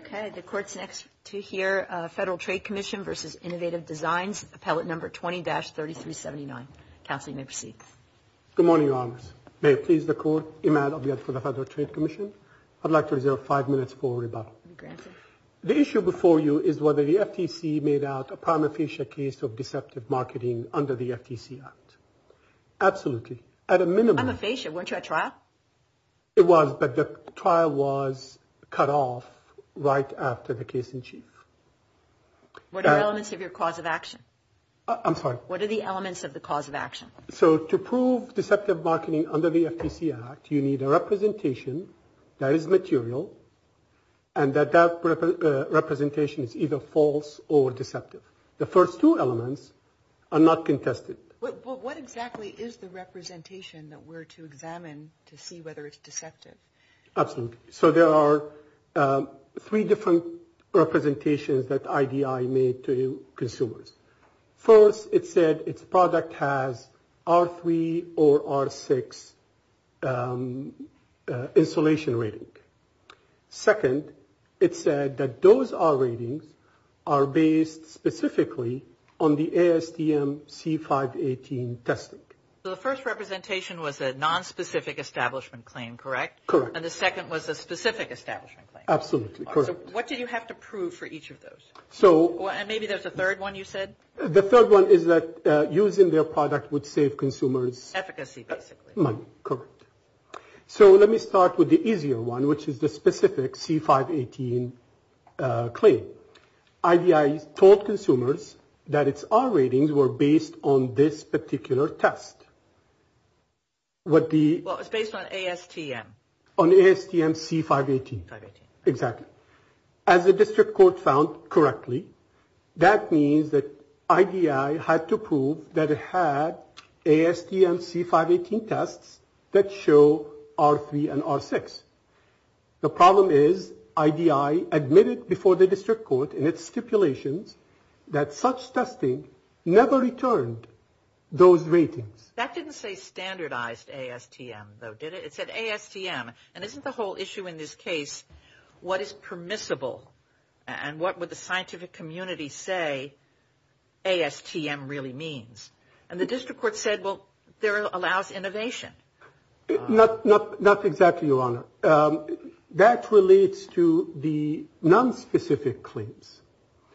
Okay, the court's next to hear Federal Trade Commission v. Innovative Designs, Appellate No. 20-3379. Counsel, you may proceed. Good morning, Your Honors. May it please the Court, Imad Abiad for the Federal Trade Commission. I'd like to reserve five minutes for rebuttal. The issue before you is whether the FTC made out a prima facie case of deceptive marketing under the FTC Act. Absolutely. At a minimum. I'm aficio. Weren't you at trial? It was, but the trial was cut off right after the case in chief. What are the elements of your cause of action? I'm sorry? What are the elements of the cause of action? So to prove deceptive marketing under the FTC Act, you need a representation that is material and that that representation is either false or deceptive. The first two elements are not contested. What exactly is the representation that we're to examine to see whether it's deceptive? Absolutely. So there are three different representations that IDI made to consumers. First, it said its product has R3 or R6 insulation rating. Second, it said that those R ratings are based specifically on the ASTM C518 testing. So the first representation was a nonspecific establishment claim, correct? Correct. And the second was a specific establishment claim? Absolutely, correct. So what did you have to prove for each of those? And maybe there's a third one, you said? The third one is that using their product would save consumers money. Efficacy, basically. Correct. So let me start with the easier one, which is the specific C518 claim. IDI told consumers that its R ratings were based on this particular test. What was based on ASTM? On ASTM C518. Exactly. As the district court found correctly, that means that IDI had to prove that it had ASTM C518 tests that show R3 and R6. The problem is IDI admitted before the district court in its stipulations that such testing never returned those ratings. That didn't say standardized ASTM, though, did it? It said ASTM. And isn't the whole issue in this case what is permissible and what would the scientific community say ASTM really means? And the district court said, well, there allows innovation. Not exactly, Your Honor. That relates to the nonspecific claims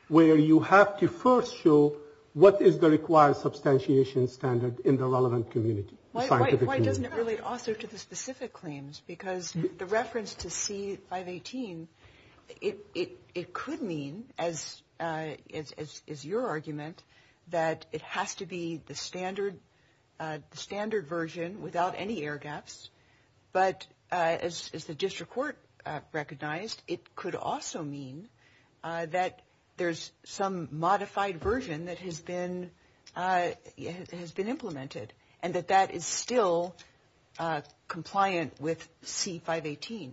where you have to first show what is the required substantiation standard in the relevant community. Why doesn't it relate also to the specific claims? Because the reference to C518, it could mean, as is your argument, that it has to be the standard version without any air gaps. But as the district court recognized, it could also mean that there's some modified version that has been has been implemented and that that is still compliant with C518.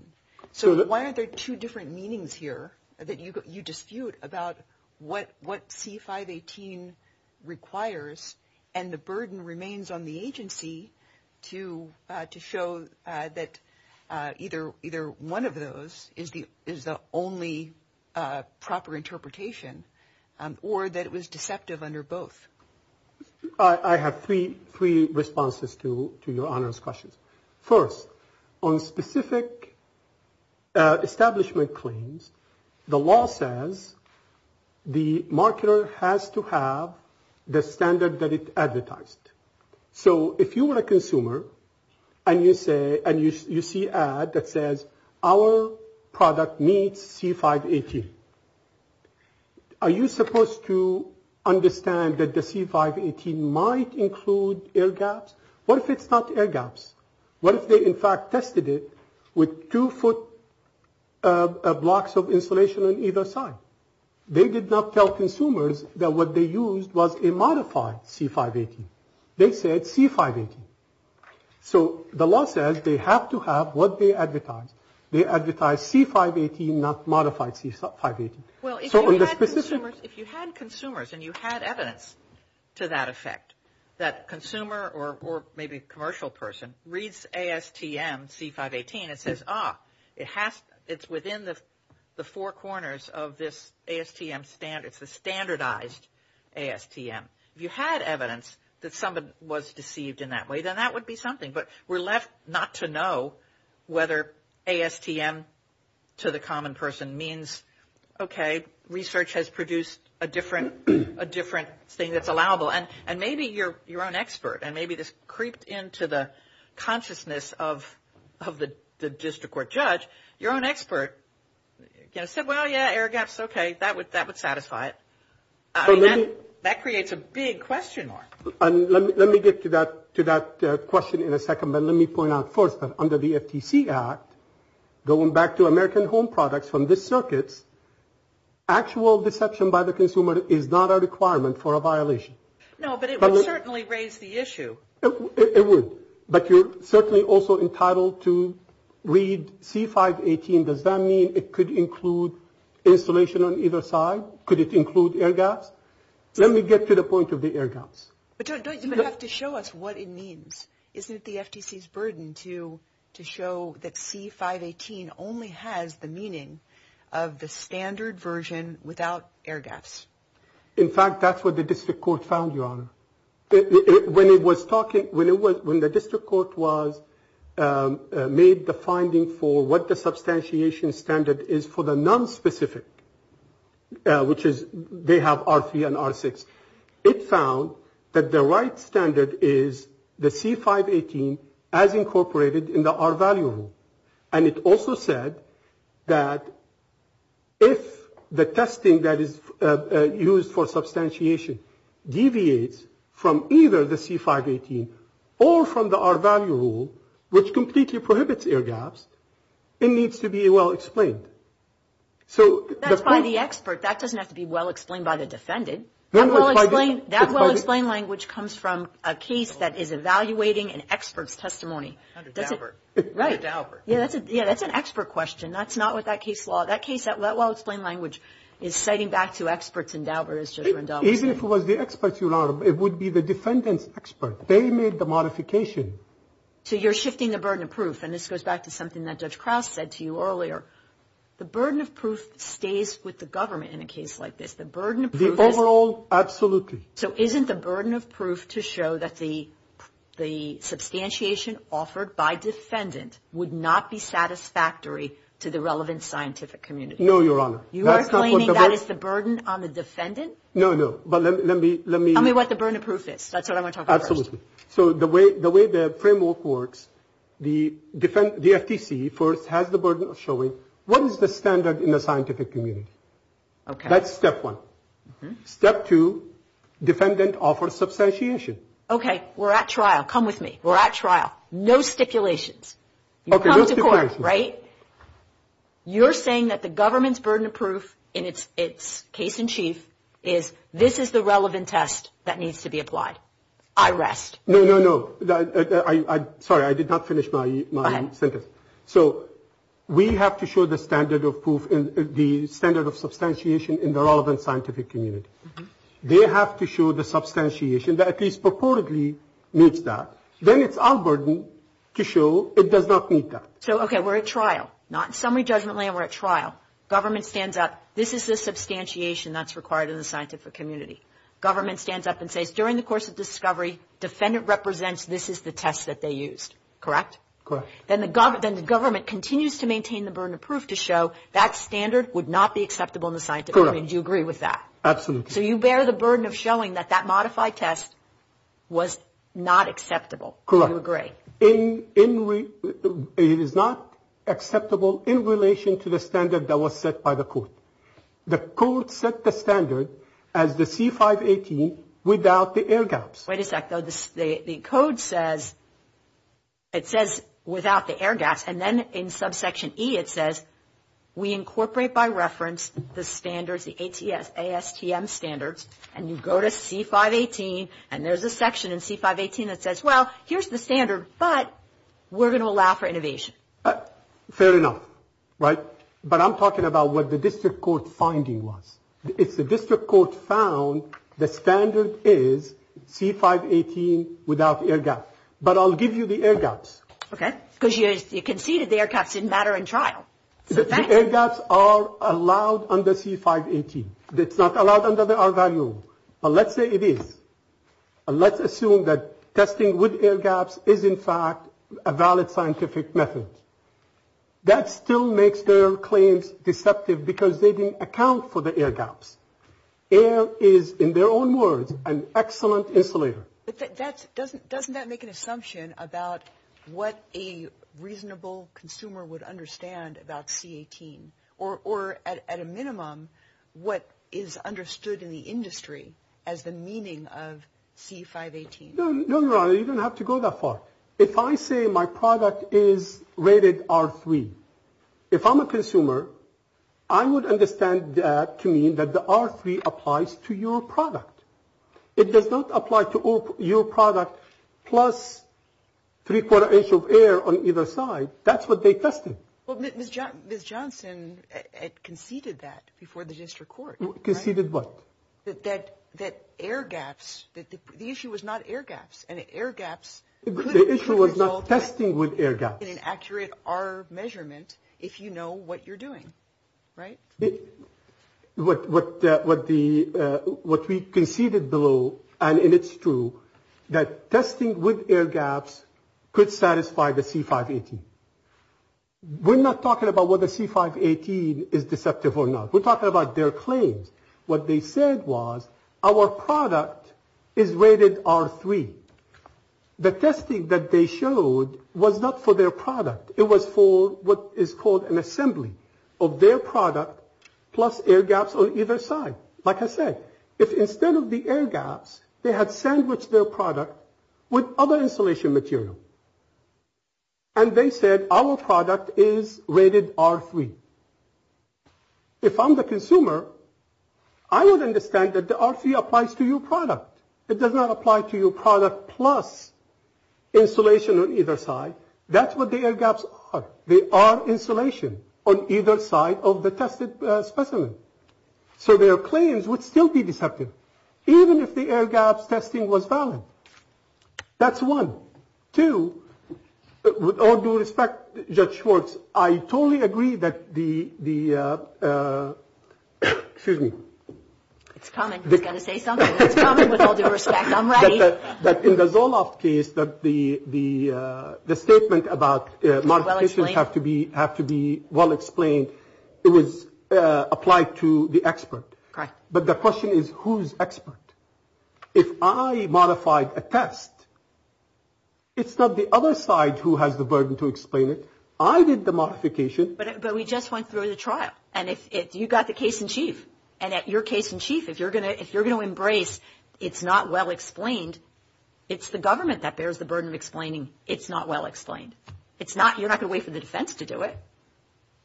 So why are there two different meanings here that you dispute about what C518 requires and the burden remains on the agency to show that either one of those is the only proper interpretation or that it was deceptive under both? I have three three responses to your honor's questions. First, on specific establishment claims, the law says the marketer has to have the standard that it advertised. So if you were a consumer and you say and you see ad that says our product meets C518. Are you supposed to understand that the C518 might include air gaps? What if it's not air gaps? What if they in fact tested it with two foot blocks of insulation on either side? They did not tell consumers that what they used was a modified C518. They said C518. So the law says they have to have what they advertise. They advertise C518, not modified C518. Well, if you had consumers and you had evidence to that effect, that consumer or maybe commercial person reads ASTM C518, it says, ah, it's within the four corners of this ASTM standard. It's a standardized ASTM. If you had evidence that someone was deceived in that way, then that would be something. But we're left not to know whether ASTM to the common person means, okay, research has produced a different thing that's allowable. And maybe your own expert, and maybe this creeped into the consciousness of the district court judge, your own expert said, well, yeah, air gaps, okay, that would satisfy it. That creates a big question mark. And let me get to that question in a second. But let me point out first that under the FTC Act, going back to American Home Products from the circuits, actual deception by the consumer is not a requirement for a violation. No, but it would certainly raise the issue. It would. But you're certainly also entitled to read C518. Does that mean it could include insulation on either side? Could it include air gaps? Let me get to the point of the air gaps. But you don't even have to show us what it means. Isn't it the FTC's burden to show that C518 only has the meaning of the standard version without air gaps? In fact, that's what the district court found, Your Honor. When the district court was made the finding for what the substantiation standard is for the nonspecific, which is they have R3 and R6, it found that the right standard is the C518 as incorporated in the R value rule. And it also said that if the testing that is used for substantiation deviates from either the C518 or from the R value rule, which completely prohibits air gaps, it needs to be well explained. That's by the expert. That doesn't have to be well explained by the defendant. That well-explained language comes from a case that is evaluating an expert's testimony. That's an expert question. That's not what that case law – that case, that well-explained language is citing back to experts. Even if it was the experts, Your Honor, it would be the defendant's expert. So you're shifting the burden of proof. And this goes back to something that Judge Krause said to you earlier. The burden of proof stays with the government in a case like this. The burden of proof is – The overall – absolutely. So isn't the burden of proof to show that the substantiation offered by defendant would not be satisfactory to the relevant scientific community? No, Your Honor. You are claiming that is the burden on the defendant? No, no. But let me – That's what I want to talk about first. Absolutely. So the way the framework works, the FTC first has the burden of showing what is the standard in the scientific community. Okay. That's step one. Step two, defendant offers substantiation. Okay. We're at trial. Come with me. We're at trial. No stipulations. Okay, no stipulations. You come to court, right? You're saying that the government's burden of proof in its case in chief is this is the relevant test that needs to be applied. I rest. No, no, no. Sorry, I did not finish my sentence. Go ahead. So we have to show the standard of proof – the standard of substantiation in the relevant scientific community. They have to show the substantiation that at least purportedly meets that. Then it's our burden to show it does not meet that. So, okay, we're at trial. Not in summary judgment land, we're at trial. Government stands up. This is the substantiation that's required in the scientific community. Government stands up and says during the course of discovery, defendant represents this is the test that they used, correct? Correct. Then the government continues to maintain the burden of proof to show that standard would not be acceptable in the scientific community. Do you agree with that? Absolutely. So you bear the burden of showing that that modified test was not acceptable. Correct. Do you agree? It is not acceptable in relation to the standard that was set by the court. The court set the standard as the C518 without the air gaps. Wait a second. The code says – it says without the air gaps, and then in subsection E it says we incorporate by reference the standards, the ASTM standards, and you go to C518, and there's a section in C518 that says, well, here's the standard, but we're going to allow for innovation. Fair enough, right? But I'm talking about what the district court finding was. If the district court found the standard is C518 without air gaps. But I'll give you the air gaps. Okay. Because you conceded the air gaps in matter and trial. The air gaps are allowed under C518. It's not allowed under the R value. But let's say it is. Let's assume that testing with air gaps is, in fact, a valid scientific method. That still makes their claims deceptive because they didn't account for the air gaps. Air is, in their own words, an excellent insulator. But doesn't that make an assumption about what a reasonable consumer would understand about C18? Or, at a minimum, what is understood in the industry as the meaning of C518? No, Your Honor, you don't have to go that far. If I say my product is rated R3, if I'm a consumer, I would understand that to mean that the R3 applies to your product. It does not apply to your product plus three-quarter inch of air on either side. That's what they tested. Well, Ms. Johnson conceded that before the district court. Conceded what? That air gaps. The issue was not air gaps. And air gaps could result in an accurate R measurement if you know what you're doing, right? What we conceded below, and it's true, that testing with air gaps could satisfy the C518. We're not talking about whether C518 is deceptive or not. We're talking about their claims. What they said was, our product is rated R3. The testing that they showed was not for their product. It was for what is called an assembly of their product plus air gaps on either side. Like I said, if instead of the air gaps, they had sandwiched their product with other insulation material. And they said, our product is rated R3. If I'm the consumer, I would understand that the R3 applies to your product. It does not apply to your product plus insulation on either side. That's what the air gaps are. They are insulation on either side of the tested specimen. So their claims would still be deceptive, even if the air gaps testing was valid. That's one. Two, with all due respect, Judge Schwartz, I totally agree that the, excuse me. It's coming. He's going to say something. It's coming. With all due respect, I'm ready. That in the Zoloft case, that the statement about modifications have to be well explained, it was applied to the expert. Correct. But the question is, who's expert? If I modified a test, it's not the other side who has the burden to explain it. I did the modification. But we just went through the trial. And if you got the case in chief, and at your case in chief, if you're going to embrace it's not well explained, it's the government that bears the burden of explaining it's not well explained. It's not, you're not going to wait for the defense to do it.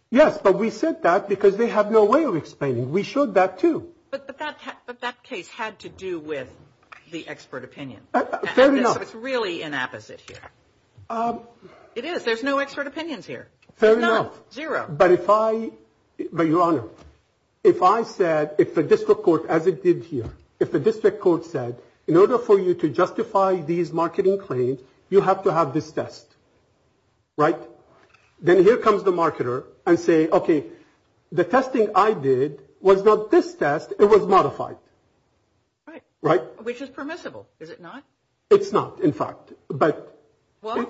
Yes, but we said that because they have no way of explaining it. We showed that too. But that case had to do with the expert opinion. Fair enough. So it's really an opposite here. It is. There's no expert opinions here. Fair enough. None. Zero. But if I, but, Your Honor, if I said, if the district court, as it did here, if the district court said in order for you to justify these marketing claims, you have to have this test, right? Then here comes the marketer and say, okay, the testing I did was not this test. It was modified. Right. Which is permissible. Is it not? It's not, in fact. Well,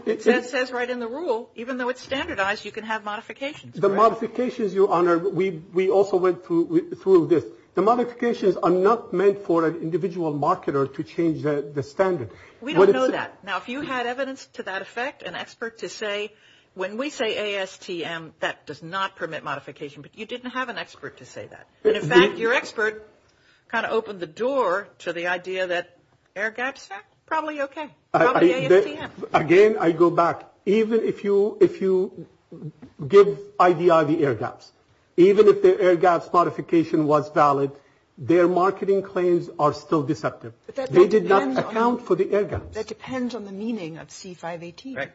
it says right in the rule, even though it's standardized, you can have modifications. The modifications, Your Honor, we also went through this. The modifications are not meant for an individual marketer to change the standard. We don't know that. Now, if you had evidence to that effect, an expert to say, when we say ASTM, that does not permit modification. But you didn't have an expert to say that. And, in fact, your expert kind of opened the door to the idea that air gaps are probably okay, probably ASTM. Again, I go back. Even if you give IDI the air gaps, even if the air gaps modification was valid, their marketing claims are still deceptive. They did not account for the air gaps. That depends on the meaning of C-518. Right.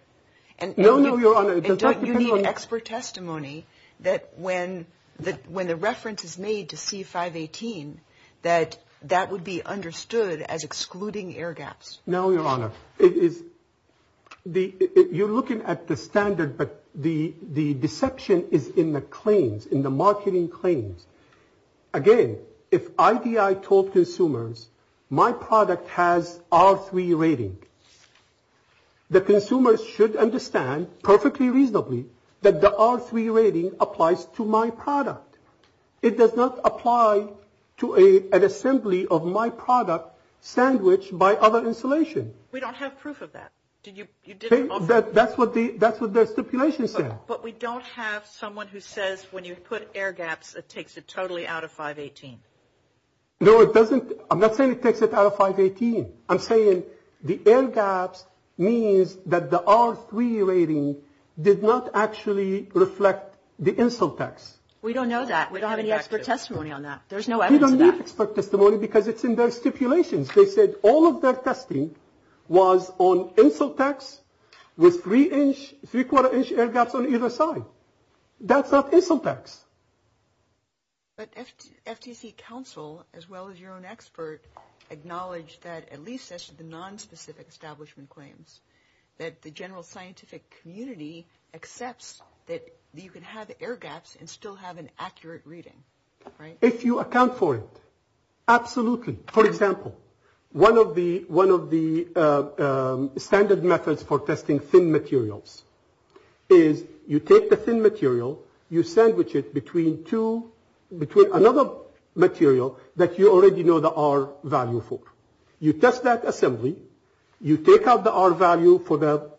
No, no, Your Honor. And don't you need expert testimony that when the reference is made to C-518, that that would be understood as excluding air gaps? No, Your Honor. You're looking at the standard, but the deception is in the claims, in the marketing claims. Again, if IDI told consumers, my product has R3 rating, the consumers should understand perfectly reasonably that the R3 rating applies to my product. It does not apply to an assembly of my product sandwiched by other installation. We don't have proof of that. That's what their stipulation said. But we don't have someone who says when you put air gaps, it takes it totally out of 518. No, it doesn't. I'm not saying it takes it out of 518. I'm saying the air gaps means that the R3 rating did not actually reflect the insole text. We don't know that. We don't have any expert testimony on that. There's no evidence of that. You don't need expert testimony because it's in their stipulations. They said all of their testing was on insole text with three inch, three quarter inch air gaps on either side. That's not insole text. But FTC counsel, as well as your own expert, acknowledged that at least the non-specific establishment claims that the general scientific community accepts that you can have air gaps and still have an accurate reading, right? If you account for it, absolutely. For example, one of the standard methods for testing thin materials is you take the thin material, you sandwich it between another material that you already know the R value for. You test that assembly. You take out the R value for the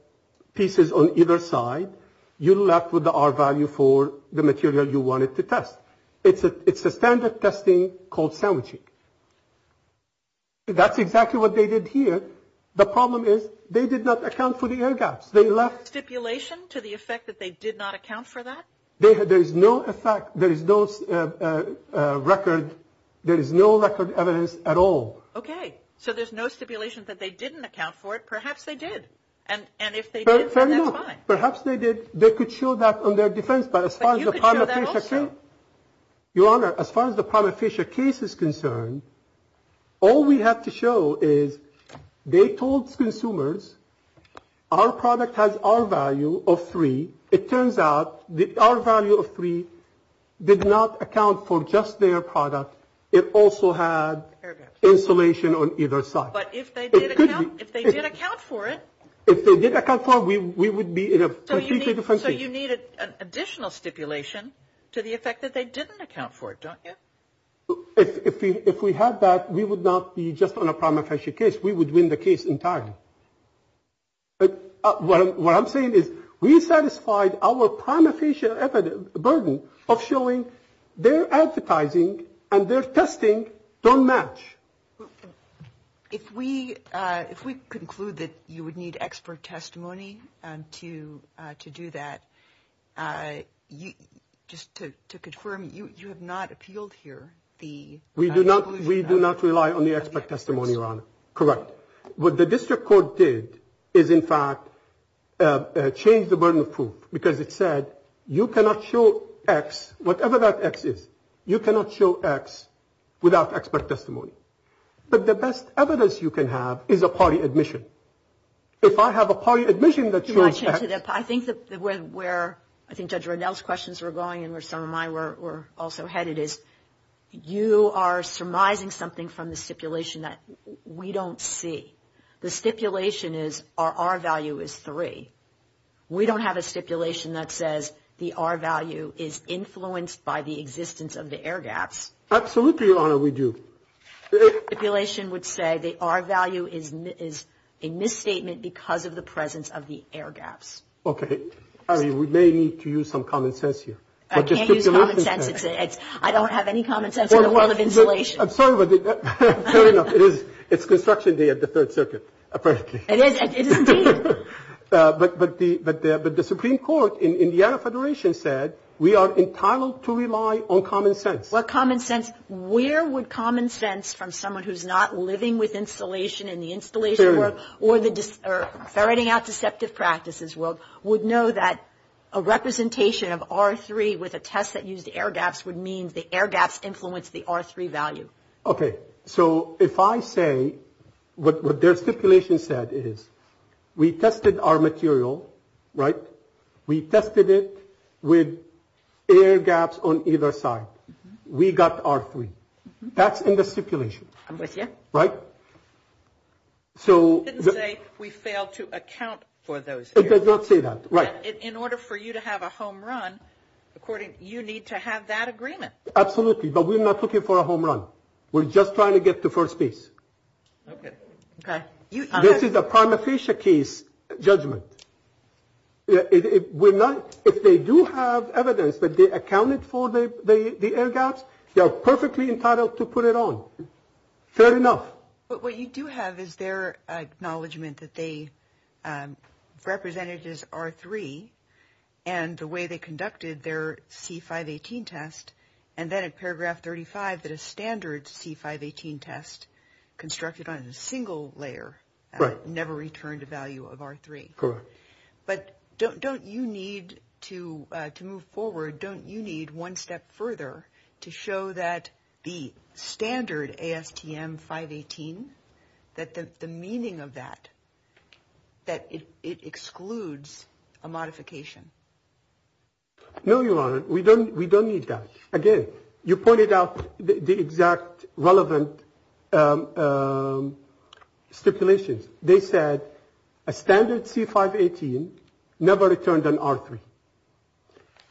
pieces on either side. You're left with the R value for the material you wanted to test. It's a standard testing called sandwiching. That's exactly what they did here. The problem is they did not account for the air gaps. They left. Stipulation to the effect that they did not account for that? There is no effect. There is no record. There is no record evidence at all. Okay. So there's no stipulation that they didn't account for it. Perhaps they did. And if they did, then that's fine. Perhaps they did. They could show that on their defense. But as far as the prima facie case is concerned, all we have to show is they told consumers our product has R value of 3. It turns out the R value of 3 did not account for just their product. It also had insulation on either side. But if they did account for it? If they did account for it, we would be in a completely different situation. So you need an additional stipulation to the effect that they didn't account for it, don't you? If we had that, we would not be just on a prima facie case. We would win the case entirely. What I'm saying is we satisfied our prima facie burden of showing their advertising and their testing don't match. If we conclude that you would need expert testimony to do that, just to confirm, you have not appealed here? We do not rely on the expert testimony, Your Honor. Correct. What the district court did is, in fact, change the burden of proof. Because it said you cannot show X, whatever that X is, you cannot show X without expert testimony. But the best evidence you can have is a party admission. If I have a party admission that shows X. I think where Judge Ronell's questions were going and where some of mine were also headed is, you are surmising something from the stipulation that we don't see. The stipulation is our R value is 3. We don't have a stipulation that says the R value is influenced by the existence of the air gaps. Absolutely, Your Honor, we do. The stipulation would say the R value is a misstatement because of the presence of the air gaps. Okay. I mean, we may need to use some common sense here. I can't use common sense. I don't have any common sense in the world of insulation. I'm sorry, but fair enough. It's construction day at the Third Circuit, apparently. It is. It is indeed. But the Supreme Court in the Indiana Federation said we are entitled to rely on common sense. What common sense? Where would common sense from someone who's not living with insulation in the installation world or ferreting out deceptive practices world would know that a representation of R3 with a test that used air gaps would mean the air gaps influence the R3 value? Okay. So if I say what their stipulation said is we tested our material, right? We tested it with air gaps on either side. We got R3. That's in the stipulation. I'm with you. Right? You didn't say we failed to account for those. It does not say that. Right. In order for you to have a home run, according, you need to have that agreement. Absolutely. But we're not looking for a home run. We're just trying to get to first base. Okay. Okay. This is a prima facie case judgment. We're not, if they do have evidence that they accounted for the air gaps, they are perfectly entitled to put it on. Fair enough. But what you do have is their acknowledgement that they represented as R3 and the way they conducted their C518 test, and then in paragraph 35 that a standard C518 test constructed on a single layer never returned a value of R3. Correct. But don't you need to move forward, don't you need one step further to show that the standard ASTM 518, that the meaning of that, that it excludes a modification? No, Your Honor. We don't need that. Again, you pointed out the exact relevant stipulations. They said a standard C518 never returned an R3.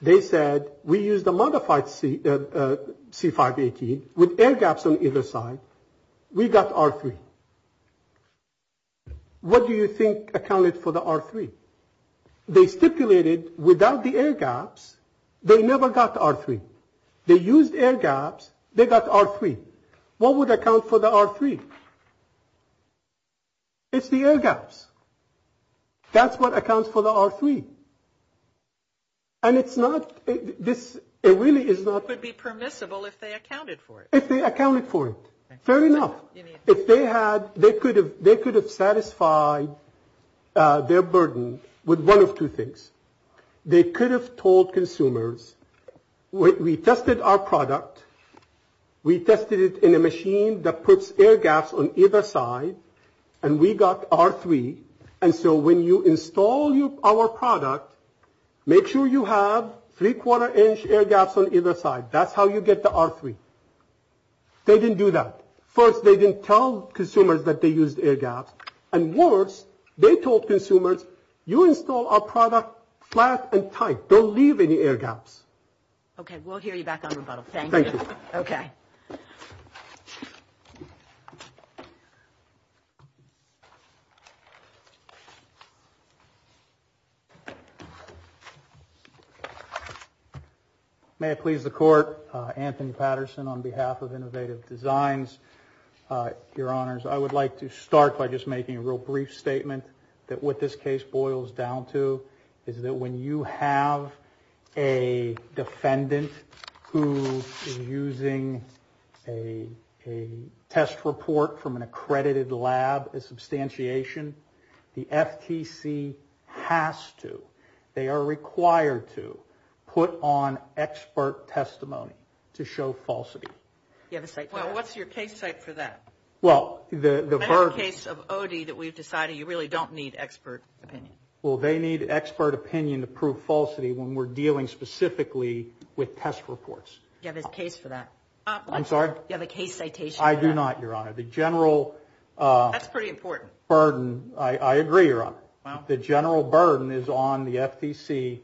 They said we use the modified C518 with air gaps on either side. We got R3. What do you think accounted for the R3? They stipulated without the air gaps. They never got R3. They used air gaps. They got R3. What would account for the R3? It's the air gaps. That's what accounts for the R3. And it's not this. It really is not. It would be permissible if they accounted for it. If they accounted for it. Fair enough. If they had, they could have, they could have satisfied their burden with one of two things. They could have told consumers, we tested our product. We tested it in a machine that puts air gaps on either side. And we got R3. And so when you install our product, make sure you have three quarter inch air gaps on either side. That's how you get the R3. They didn't do that. First, they didn't tell consumers that they used air gaps. And worst, they told consumers, you install our product flat and tight. Don't leave any air gaps. Okay. We'll hear you back on rebuttal. Thank you. Okay. May I please the court? Anthony Patterson on behalf of Innovative Designs. Your honors, I would like to start by just making a real brief statement that what this case boils down to is that when you have a defendant who is using a test report from an accredited lab as substantiation, the FTC has to, they are required to, put on expert testimony to show falsity. Well, what's your case site for that? Well, the burden. Remember the case of OD that we've decided you really don't need expert opinion. Well, they need expert opinion to prove falsity when we're dealing specifically with test reports. Do you have a case for that? I'm sorry? Do you have a case citation for that? I do not, your honor. The general burden. That's pretty important. I agree, your honor. The general burden is on the FTC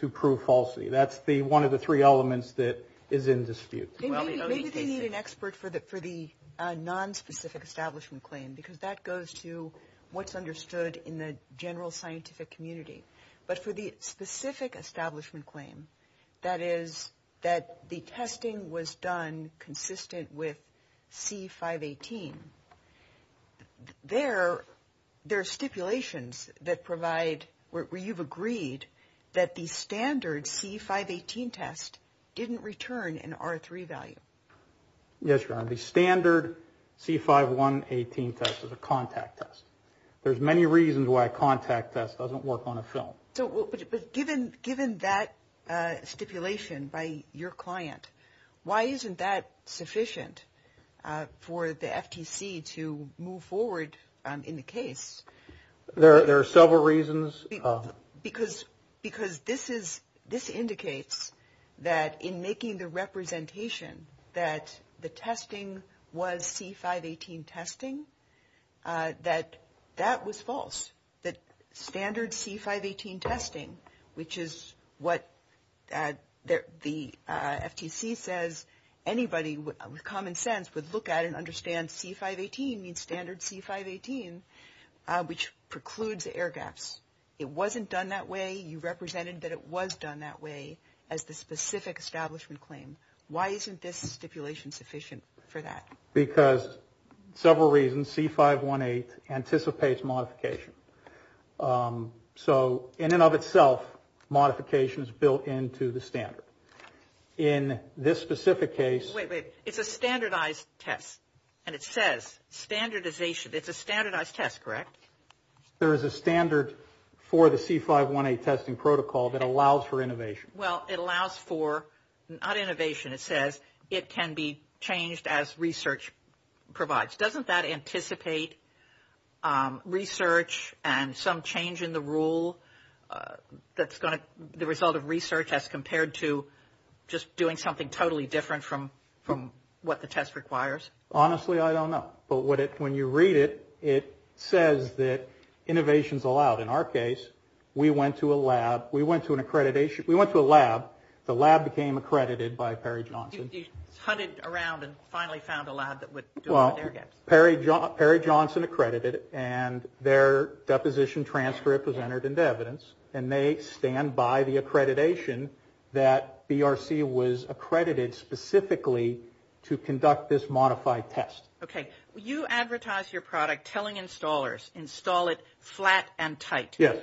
to prove falsity. That's one of the three elements that is in dispute. Maybe they need an expert for the nonspecific establishment claim, because that goes to what's understood in the general scientific community. But for the specific establishment claim, that is, that the testing was done consistent with C518, there are stipulations that provide, where you've agreed that the standard C518 test didn't return an R3 value. Yes, your honor. The standard C518 test is a contact test. There's many reasons why a contact test doesn't work on a film. But given that stipulation by your client, why isn't that sufficient for the FTC to move forward in the case? There are several reasons. Because this indicates that in making the representation that the testing was C518 testing, that that was false. That standard C518 testing, which is what the FTC says anybody with common sense would look at and understand C518 means standard C518, which precludes air gaps. It wasn't done that way. You represented that it was done that way as the specific establishment claim. Why isn't this stipulation sufficient for that? Because several reasons. C518 anticipates modification. So in and of itself, modification is built into the standard. In this specific case. Wait, wait. It's a standardized test, and it says standardization. It's a standardized test, correct? There is a standard for the C518 testing protocol that allows for innovation. Well, it allows for not innovation. It says it can be changed as research provides. Doesn't that anticipate research and some change in the rule that's the result of research compared to just doing something totally different from what the test requires? Honestly, I don't know. But when you read it, it says that innovation is allowed. In our case, we went to a lab. We went to an accreditation. We went to a lab. The lab became accredited by Perry Johnson. You hunted around and finally found a lab that would do air gaps. Well, Perry Johnson accredited, and their deposition transcript was entered into evidence, and they stand by the accreditation that BRC was accredited specifically to conduct this modified test. Okay. You advertise your product telling installers install it flat and tight. Yes.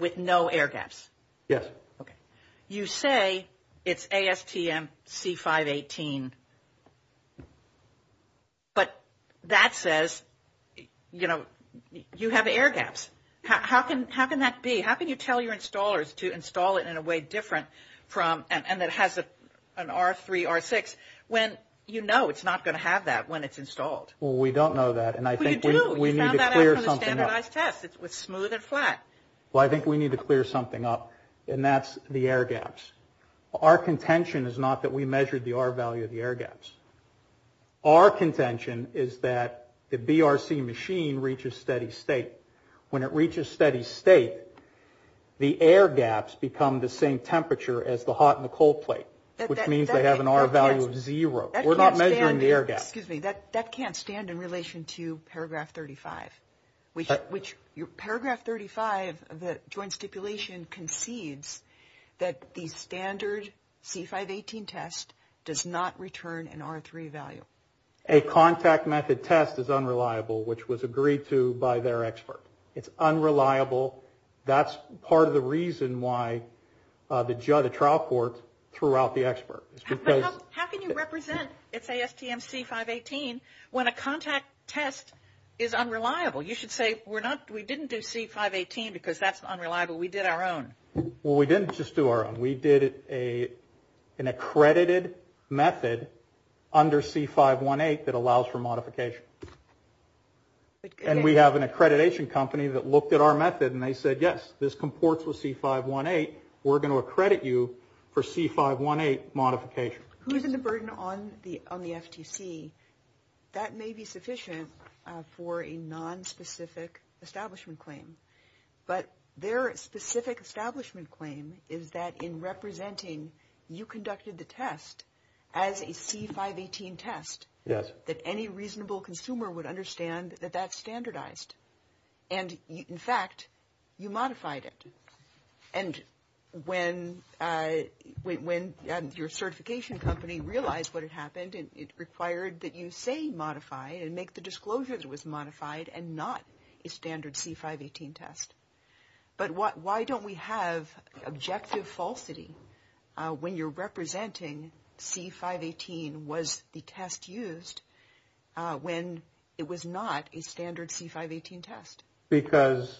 With no air gaps. Yes. Okay. You say it's ASTM C518, but that says, you know, you have air gaps. How can that be? How can you tell your installers to install it in a way different from and that has an R3, R6, when you know it's not going to have that when it's installed? Well, we don't know that. Well, you do. You found that out from the standardized test. It's smooth and flat. Well, I think we need to clear something up, and that's the air gaps. Our contention is not that we measured the R value of the air gaps. Our contention is that the BRC machine reaches steady state. When it reaches steady state, the air gaps become the same temperature as the hot and the cold plate, which means they have an R value of zero. We're not measuring the air gaps. Excuse me. That can't stand in relation to paragraph 35, which paragraph 35 of the joint stipulation concedes that the standard C518 test does not return an R3 value. A contact method test is unreliable, which was agreed to by their expert. It's unreliable. That's part of the reason why the trial court threw out the expert. How can you represent, let's say, STM C518, when a contact test is unreliable? You should say, we didn't do C518 because that's unreliable. We did our own. Well, we didn't just do our own. We did an accredited method under C518 that allows for modification. And we have an accreditation company that looked at our method and they said, yes, this comports with C518. We're going to accredit you for C518 modification. Who's in the burden on the FTC? That may be sufficient for a nonspecific establishment claim. But their specific establishment claim is that in representing you conducted the test as a C518 test that any reasonable consumer would understand that that's standardized. And, in fact, you modified it. And when your certification company realized what had happened, it required that you say that it was modified and make the disclosure that it was modified and not a standard C518 test. But why don't we have objective falsity when you're representing C518 was the test used when it was not a standard C518 test? Because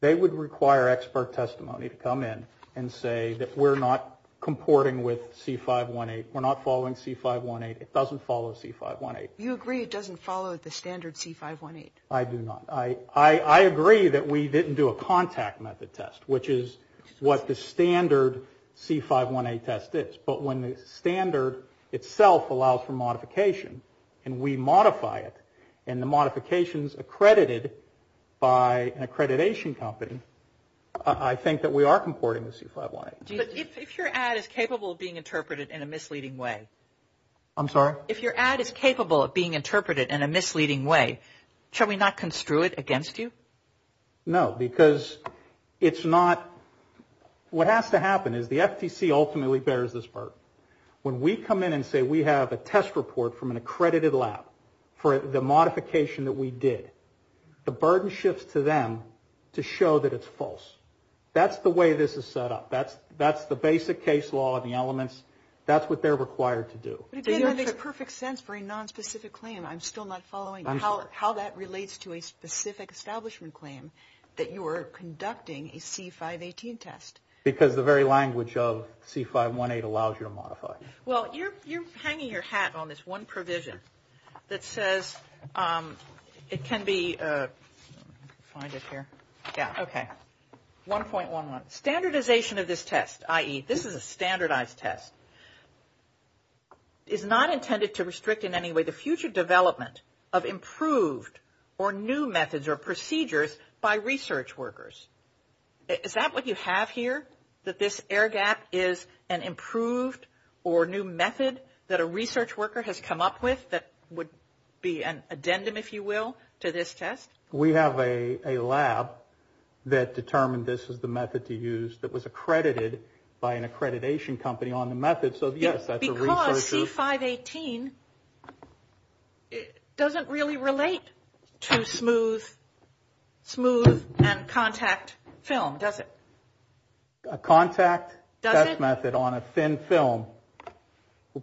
they would require expert testimony to come in and say that we're not comporting with C518. We're not following C518. It doesn't follow C518. You agree it doesn't follow the standard C518? I do not. I agree that we didn't do a contact method test, which is what the standard C518 test is. But when the standard itself allows for modification and we modify it and the modification is accredited by an accreditation company, I think that we are comporting with C518. If your ad is capable of being interpreted in a misleading way. I'm sorry? If your ad is capable of being interpreted in a misleading way, shall we not construe it against you? No, because it's not. What has to happen is the FTC ultimately bears this burden. When we come in and say we have a test report from an accredited lab for the modification that we did, the burden shifts to them to show that it's false. That's the way this is set up. That's the basic case law of the elements. That's what they're required to do. But it makes perfect sense for a nonspecific claim. I'm still not following how that relates to a specific establishment claim that you are conducting a C518 test. Because the very language of C518 allows you to modify it. Well, you're hanging your hat on this one provision that says it can be, find it here. Yeah, okay. 1.11, standardization of this test, i.e., this is a standardized test, is not intended to restrict in any way the future development of improved or new methods or procedures by research workers. Is that what you have here, that this air gap is an improved or new method that a research worker has come up with that would be an addendum, if you will, to this test? We have a lab that determined this was the method to use that was accredited by an accreditation company on the method. Because C518 doesn't really relate to smooth and contact film, does it? A contact test method on a thin film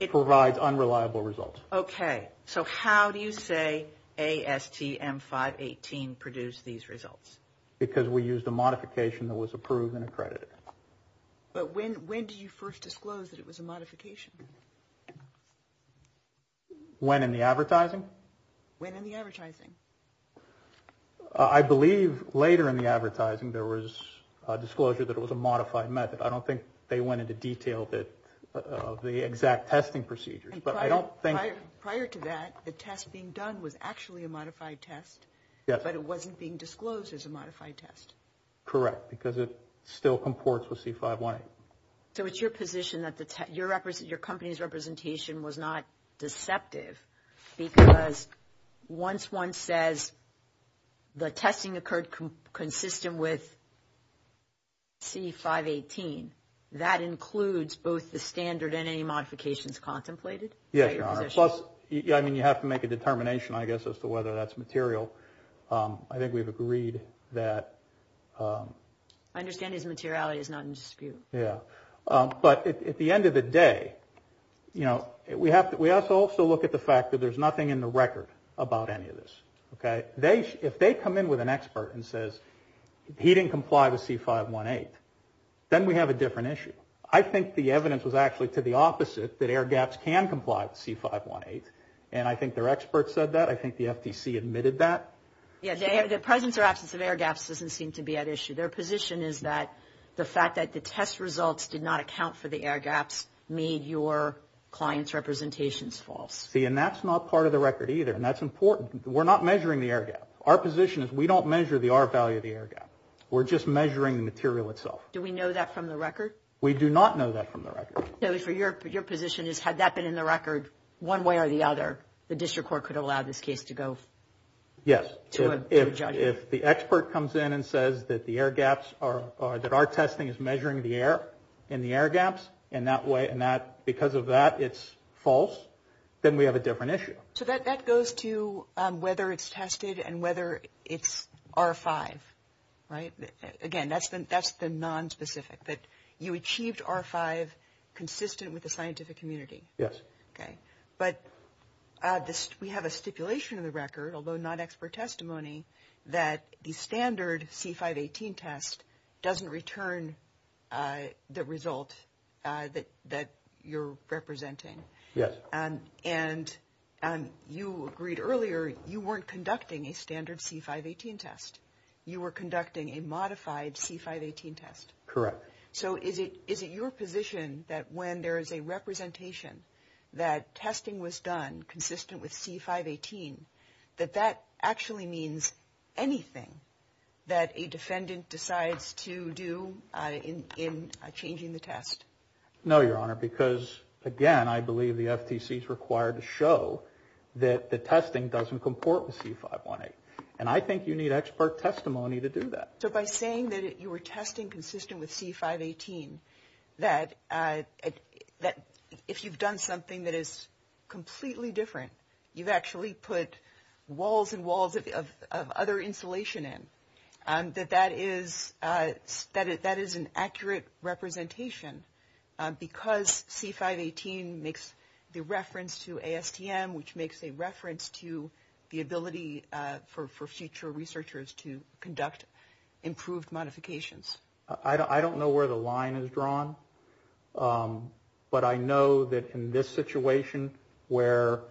provides unreliable results. Okay, so how do you say ASTM 518 produced these results? Because we used a modification that was approved and accredited. But when did you first disclose that it was a modification? When in the advertising? When in the advertising? I believe later in the advertising there was a disclosure that it was a modified method. I don't think they went into detail of the exact testing procedures, but I don't think – Prior to that, the test being done was actually a modified test, but it wasn't being disclosed as a modified test. Correct, because it still comports with C518. So it's your position that your company's representation was not deceptive because once one says the testing occurred consistent with C518, that includes both the standard and any modifications contemplated? Yes, Your Honor. Plus, I mean, you have to make a determination, I guess, as to whether that's material. I think we've agreed that – I understand his materiality is not in dispute. Yeah, but at the end of the day, you know, we have to also look at the fact that there's nothing in the record about any of this, okay? If they come in with an expert and says he didn't comply with C518, then we have a different issue. I think the evidence was actually to the opposite, that air gaps can comply with C518, and I think their expert said that. I think the FTC admitted that. Yeah, the presence or absence of air gaps doesn't seem to be at issue. Their position is that the fact that the test results did not account for the air gaps made your client's representations false. See, and that's not part of the record either, and that's important. We're not measuring the air gap. Our position is we don't measure the R value of the air gap. We're just measuring the material itself. Do we know that from the record? We do not know that from the record. Kelly, your position is had that been in the record one way or the other, the district court could allow this case to go to a judge. Yes. If the expert comes in and says that the air gaps are, that our testing is measuring the air and the air gaps, and because of that it's false, then we have a different issue. So that goes to whether it's tested and whether it's R5, right? Again, that's the nonspecific, that you achieved R5 consistent with the scientific community. Yes. Okay. But we have a stipulation in the record, although not expert testimony, that the standard C518 test doesn't return the result that you're representing. Yes. And you agreed earlier you weren't conducting a standard C518 test. You were conducting a modified C518 test. Correct. So is it your position that when there is a representation that testing was done consistent with C518, that that actually means anything that a defendant decides to do in changing the test? No, Your Honor, because, again, I believe the FTC is required to show that the testing doesn't comport with C518. And I think you need expert testimony to do that. So by saying that you were testing consistent with C518, that if you've done something that is completely different, you've actually put walls and walls of other insulation in, that that is an accurate representation because C518 makes the reference to ASTM, which makes a reference to the ability for future researchers to conduct improved modifications. I don't know where the line is drawn, but I know that in this situation where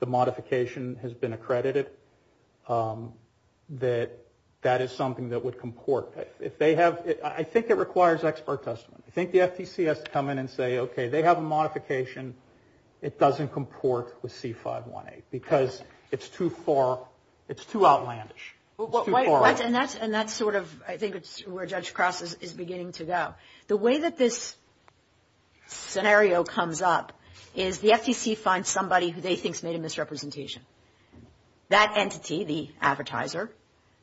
the modification has been accredited, that that is something that would comport. I think it requires expert testimony. I think the FTC has to come in and say, okay, they have a modification. It doesn't comport with C518 because it's too far, it's too outlandish. It's too far. And that's sort of, I think, where Judge Cross is beginning to go. The way that this scenario comes up is the FTC finds somebody who they think has made a misrepresentation. That entity, the advertiser,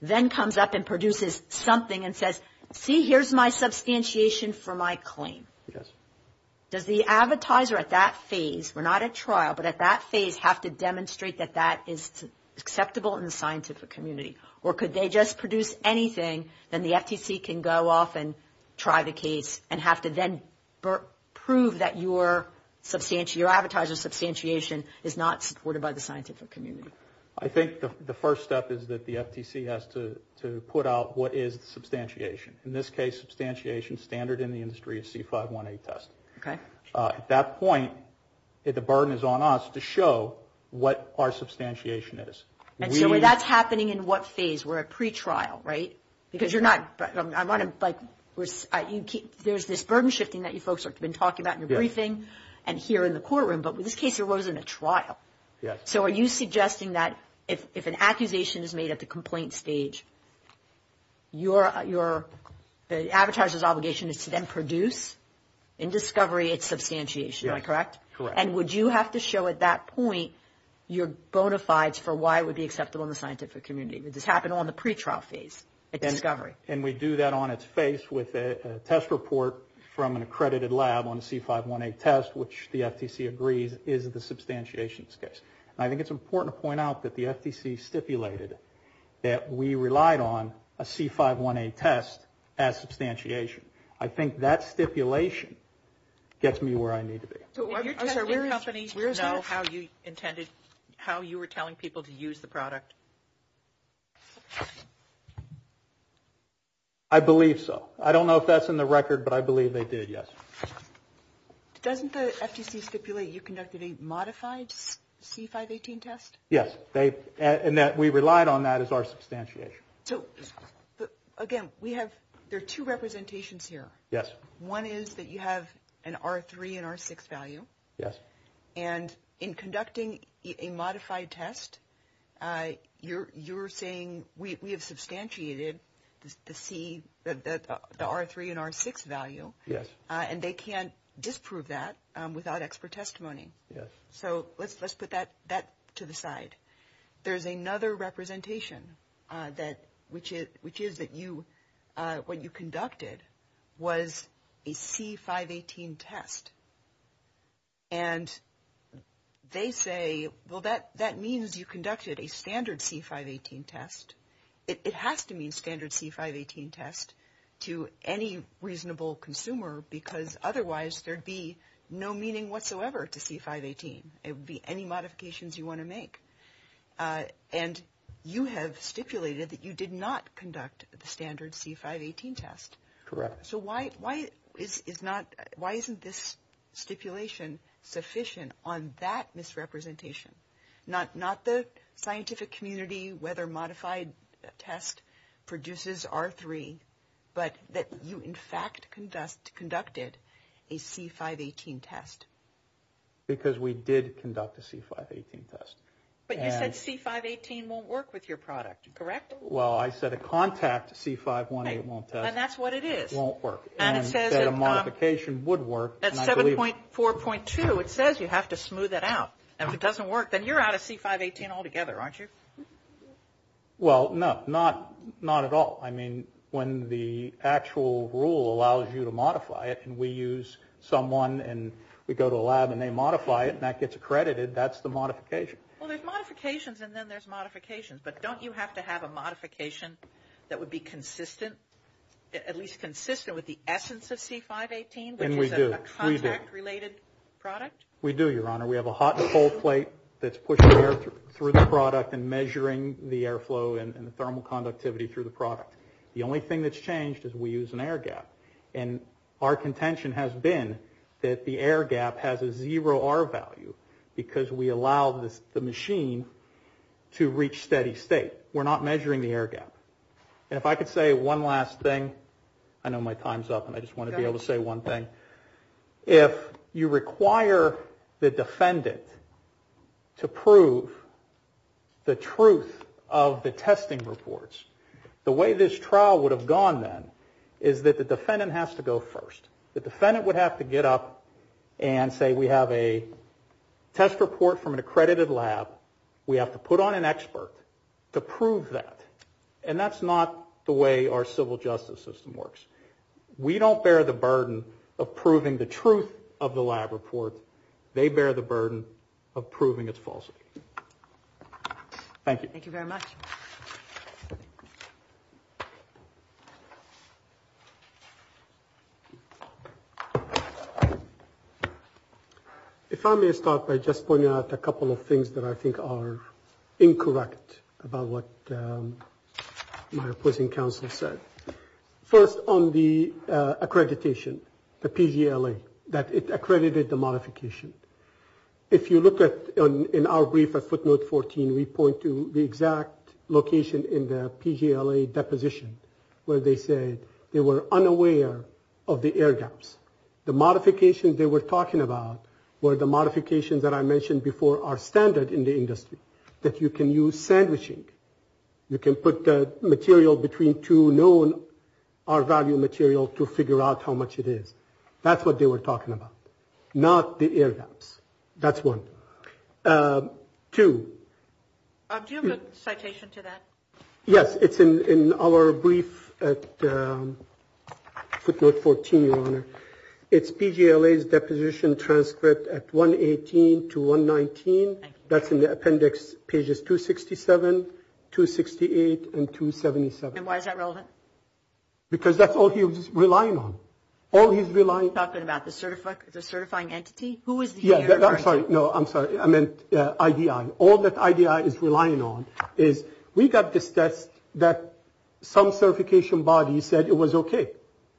then comes up and produces something and says, see, here's my substantiation for my claim. Yes. Does the advertiser at that phase, we're not at trial, but at that phase have to demonstrate that that is acceptable in the scientific community? Or could they just produce anything, then the FTC can go off and try the case and have to then prove that your advertiser's substantiation is not supported by the scientific community? I think the first step is that the FTC has to put out what is the substantiation. In this case, substantiation standard in the industry is C518 test. Okay. At that point, the burden is on us to show what our substantiation is. And so that's happening in what phase? We're at pretrial, right? Because you're not, there's this burden shifting that you folks have been talking about in your briefing and here in the courtroom, but with this case, there wasn't a trial. So are you suggesting that if an accusation is made at the complaint stage, your advertiser's obligation is to then produce in discovery its substantiation, am I correct? Yes, correct. And would you have to show at that point your bona fides for why it would be acceptable in the scientific community? Would this happen on the pretrial phase at discovery? And we do that on its face with a test report from an accredited lab on a C518 test, which the FTC agrees is the substantiation's case. And I think it's important to point out that the FTC stipulated that we relied on a C518 test as substantiation. I think that stipulation gets me where I need to be. Did your testing company know how you intended, how you were telling people to use the product? I believe so. I don't know if that's in the record, but I believe they did, yes. Doesn't the FTC stipulate you conducted a modified C518 test? Yes, and that we relied on that as our substantiation. So, again, we have, there are two representations here. Yes. One is that you have an R3 and R6 value. Yes. And in conducting a modified test, you're saying we have substantiated the R3 and R6 value. Yes. And they can't disprove that without expert testimony. Yes. So let's put that to the side. There's another representation, which is that you, what you conducted was a C518 test. And they say, well, that means you conducted a standard C518 test. It has to mean standard C518 test to any reasonable consumer, because otherwise there'd be no meaning whatsoever to C518. It would be any modifications you want to make. And you have stipulated that you did not conduct the standard C518 test. Correct. So why isn't this stipulation sufficient on that misrepresentation? Not the scientific community, whether modified test produces R3, but that you in fact conducted a C518 test. Because we did conduct a C518 test. But you said C518 won't work with your product, correct? Well, I said a contact C518 won't test. And that's what it is. Won't work. And it says that a modification would work. At 7.4.2, it says you have to smooth that out. And if it doesn't work, then you're out of C518 altogether, aren't you? Well, no. Not at all. I mean, when the actual rule allows you to modify it, and we use someone and we go to a lab and they modify it, and that gets accredited, that's the modification. Well, there's modifications, and then there's modifications. But don't you have to have a modification that would be consistent, at least consistent with the essence of C518, which is a contact-related product? And we do. We do. We do, Your Honor. We have a hot and cold plate that's pushing air through the product and measuring the airflow and the thermal conductivity through the product. The only thing that's changed is we use an air gap. And our contention has been that the air gap has a zero R value because we allow the machine to reach steady state. We're not measuring the air gap. And if I could say one last thing. I know my time's up, and I just want to be able to say one thing. If you require the defendant to prove the truth of the testing reports, the way this trial would have gone then is that the defendant has to go first. The defendant would have to get up and say, we have a test report from an accredited lab. We have to put on an expert to prove that. And that's not the way our civil justice system works. We don't bear the burden of proving the truth of the lab report. They bear the burden of proving its falsity. Thank you. Thank you very much. If I may start by just pointing out a couple of things that I think are incorrect about what my opposing counsel said. First, on the accreditation, the PGLA, that it accredited the modification. If you look in our brief at footnote 14, we point to the exact location in the PGLA deposition where they said they were unaware of the air gaps. The modifications they were talking about were the modifications that I mentioned before are standard in the industry, that you can use sandwiching. You can put the material between two known R value material to figure out how much it is. That's what they were talking about, not the air gaps. That's one. Two. Do you have a citation to that? Yes. It's in our brief at footnote 14, Your Honor. It's PGLA's deposition transcript at 118 to 119. That's in the appendix pages 267, 268, and 277. And why is that relevant? Because that's all he was relying on. All he's relying on. You're talking about the certifying entity? Who is the entity? I'm sorry. No, I'm sorry. I meant IDI. All that IDI is relying on is we got this test that some certification body said it was okay.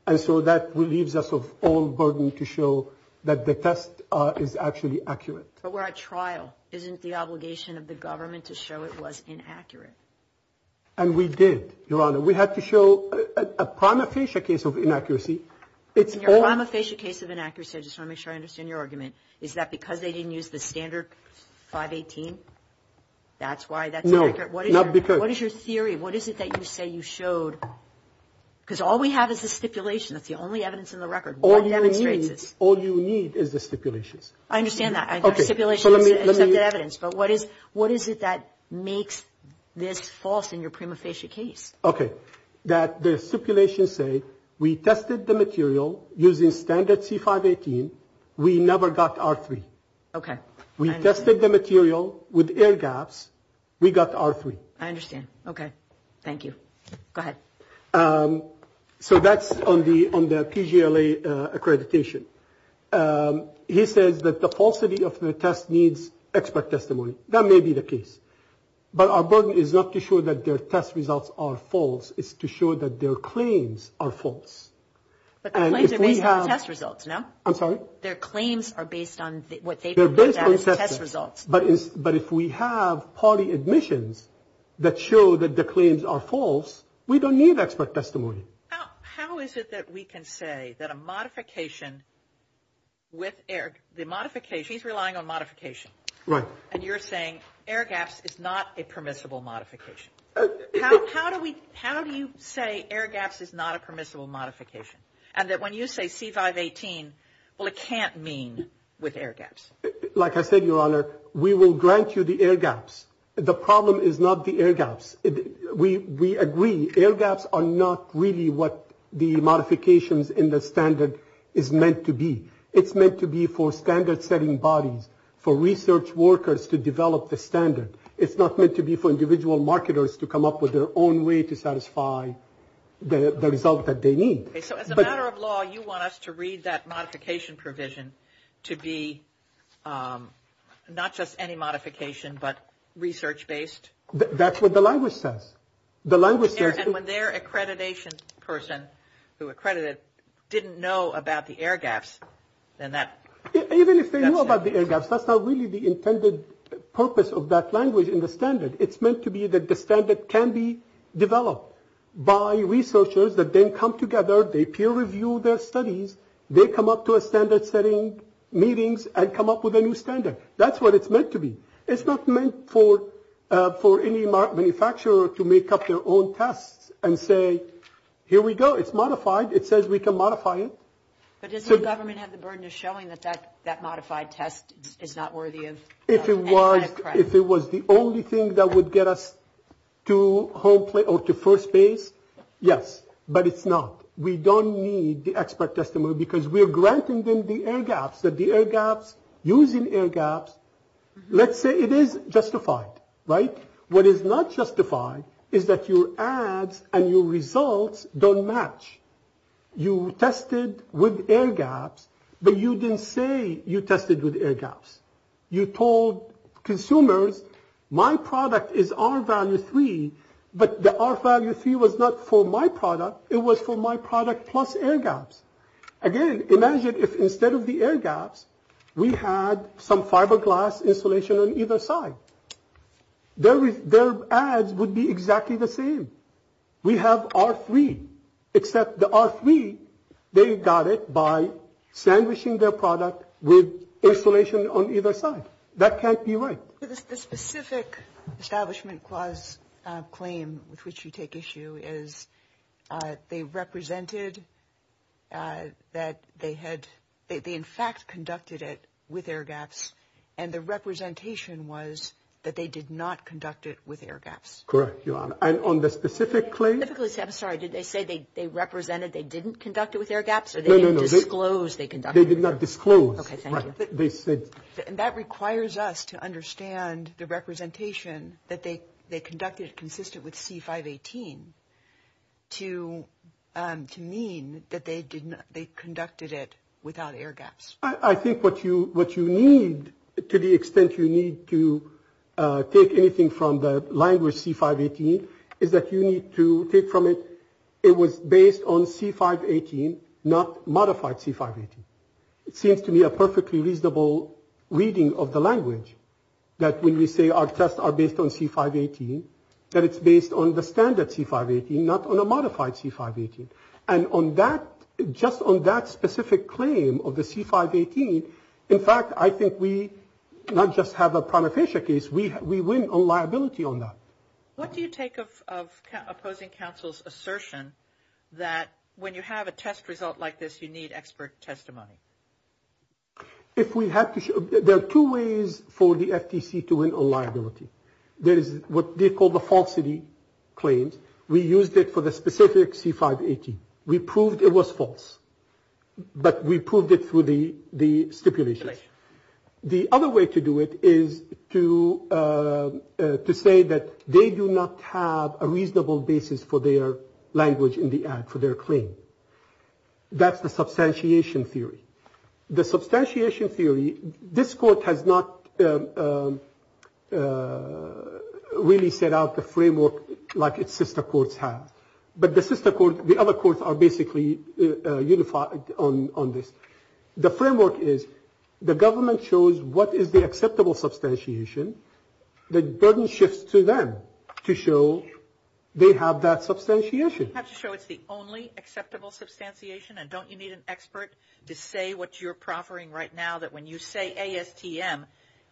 And so that leaves us of all burden to show that the test is actually accurate. But we're at trial. Isn't the obligation of the government to show it was inaccurate? And we did, Your Honor. We had to show a prima facie case of inaccuracy. In your prima facie case of inaccuracy, I just want to make sure I understand your argument, is that because they didn't use the standard 518, that's why that's inaccurate? No, not because. What is your theory? What is it that you say you showed? Because all we have is the stipulation. That's the only evidence in the record. All you need is the stipulations. I understand that. The stipulation is the evidence. But what is it that makes this false in your prima facie case? Okay. That the stipulations say we tested the material using standard C518. We never got R3. Okay. We tested the material with air gaps. We got R3. I understand. Okay. Thank you. Go ahead. So that's on the PGLA accreditation. He says that the falsity of the test needs expert testimony. That may be the case. But our burden is not to show that their test results are false. It's to show that their claims are false. But the claims are based on the test results, no? I'm sorry? Their claims are based on what they proved as test results. But if we have party admissions that show that the claims are false, we don't need expert testimony. How is it that we can say that a modification with air, the modification, he's relying on modification. Right. And you're saying air gaps is not a permissible modification. How do we, how do you say air gaps is not a permissible modification? And that when you say C518, well it can't mean with air gaps. Like I said, Your Honor, we will grant you the air gaps. The problem is not the air gaps. We agree air gaps are not really what the modifications in the standard is meant to be. It's meant to be for standard setting bodies, for research workers to develop the standard. It's not meant to be for individual marketers to come up with their own way to satisfy the result that they need. So as a matter of law, you want us to read that modification provision to be not just any modification but research based? That's what the language says. The language says. And when their accreditation person who accredited didn't know about the air gaps, then that's not. Even if they knew about the air gaps, that's not really the intended purpose of that language in the standard. It's meant to be that the standard can be developed by researchers that then come together, they peer review their studies, they come up to a standard setting meetings and come up with a new standard. That's what it's meant to be. It's not meant for any manufacturer to make up their own tests and say, here we go. It's modified. It says we can modify it. But doesn't the government have the burden of showing that that modified test is not worthy of any kind of credit? If it was the only thing that would get us to first base, yes. But it's not. We don't need the expert testimony because we're granting them the air gaps, the air gaps using air gaps. Let's say it is justified. Right. What is not justified is that your ads and your results don't match. You tested with air gaps, but you didn't say you tested with air gaps. You told consumers my product is our value three. But the RFID was not for my product. It was for my product plus air gaps. Again, imagine if instead of the air gaps, we had some fiberglass insulation on either side. Their ads would be exactly the same. We have R3, except the R3, they got it by sandwiching their product with insulation on either side. That can't be right. The specific establishment clause claim with which you take issue is they represented that they had. They, in fact, conducted it with air gaps. And the representation was that they did not conduct it with air gaps. Correct. You are on the specific claim. I'm sorry. Did they say they represented they didn't conduct it with air gaps or they didn't disclose they can. They did not disclose. They said. And that requires us to understand the representation that they conducted consistent with C518 to mean that they conducted it without air gaps. I think what you need, to the extent you need to take anything from the language C518, is that you need to take from it, it was based on C518, not modified C518. It seems to me a perfectly reasonable reading of the language that when we say our tests are based on C518, that it's based on the standard C518, not on a modified C518. And on that, just on that specific claim of the C518, in fact, I think we not just have a prima facie case, we win on liability on that. What do you take of opposing counsel's assertion that when you have a test result like this, you need expert testimony? If we have to, there are two ways for the FTC to win on liability. There is what they call the falsity claims. We used it for the specific C518. We proved it was false. But we proved it through the stipulations. The other way to do it is to say that they do not have a reasonable basis for their language in the ad, for their claim. That's the substantiation theory. The substantiation theory, this court has not really set out the framework like its sister courts have. But the sister court, the other courts are basically unified on this. The framework is the government shows what is the acceptable substantiation. The burden shifts to them to show they have that substantiation. You have to show it's the only acceptable substantiation. And don't you need an expert to say what you're proffering right now, that when you say ASTM,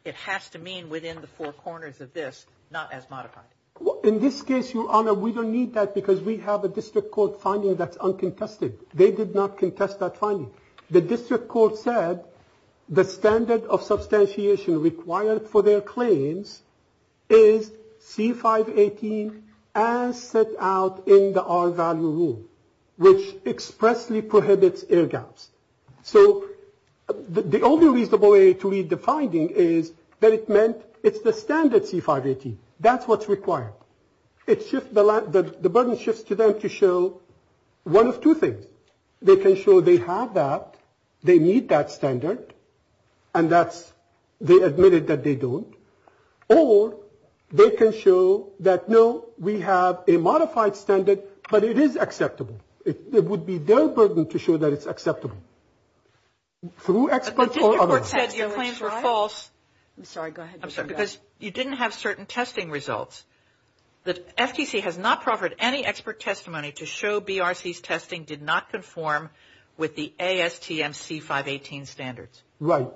it has to mean within the four corners of this, not as modified? In this case, Your Honor, we don't need that because we have a district court finding that's uncontested. They did not contest that finding. The district court said the standard of substantiation required for their claims is C-518, as set out in the R-value rule, which expressly prohibits air gaps. So the only reasonable way to read the finding is that it meant it's the standard C-518. That's what's required. The burden shifts to them to show one of two things. They can show they have that, they meet that standard, and they admit it that they don't. Or they can show that, no, we have a modified standard, but it is acceptable. It would be their burden to show that it's acceptable. Through experts or others. But the district court said your claims were false. I'm sorry, go ahead. I'm sorry, because you didn't have certain testing results. The FTC has not proffered any expert testimony to show BRC's testing did not conform with the ASTM C-518 standards. Right.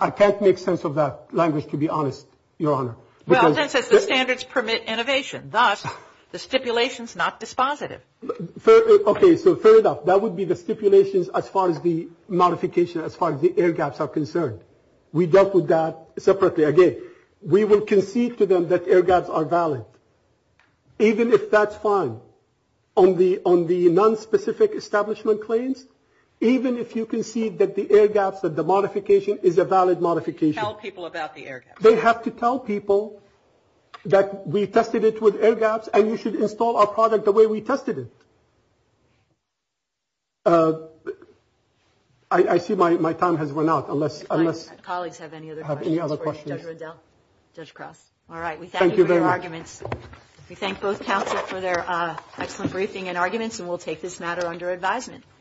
I can't make sense of that language, to be honest, Your Honor. Well, it says the standards permit innovation. Thus, the stipulation's not dispositive. Okay, so fair enough. That would be the stipulations as far as the modification, as far as the air gaps are concerned. We dealt with that separately. Again, we will concede to them that air gaps are valid, even if that's fine. On the nonspecific establishment claims, even if you concede that the air gaps, that the modification is a valid modification. Tell people about the air gaps. They have to tell people that we tested it with air gaps, and you should install our product the way we tested it. I see my time has run out. Colleagues have any other questions for you? Judge Riddell? Judge Cross? All right. We thank you for your arguments. We thank both counsel for their excellent briefing and arguments, and we'll take this matter under advisement.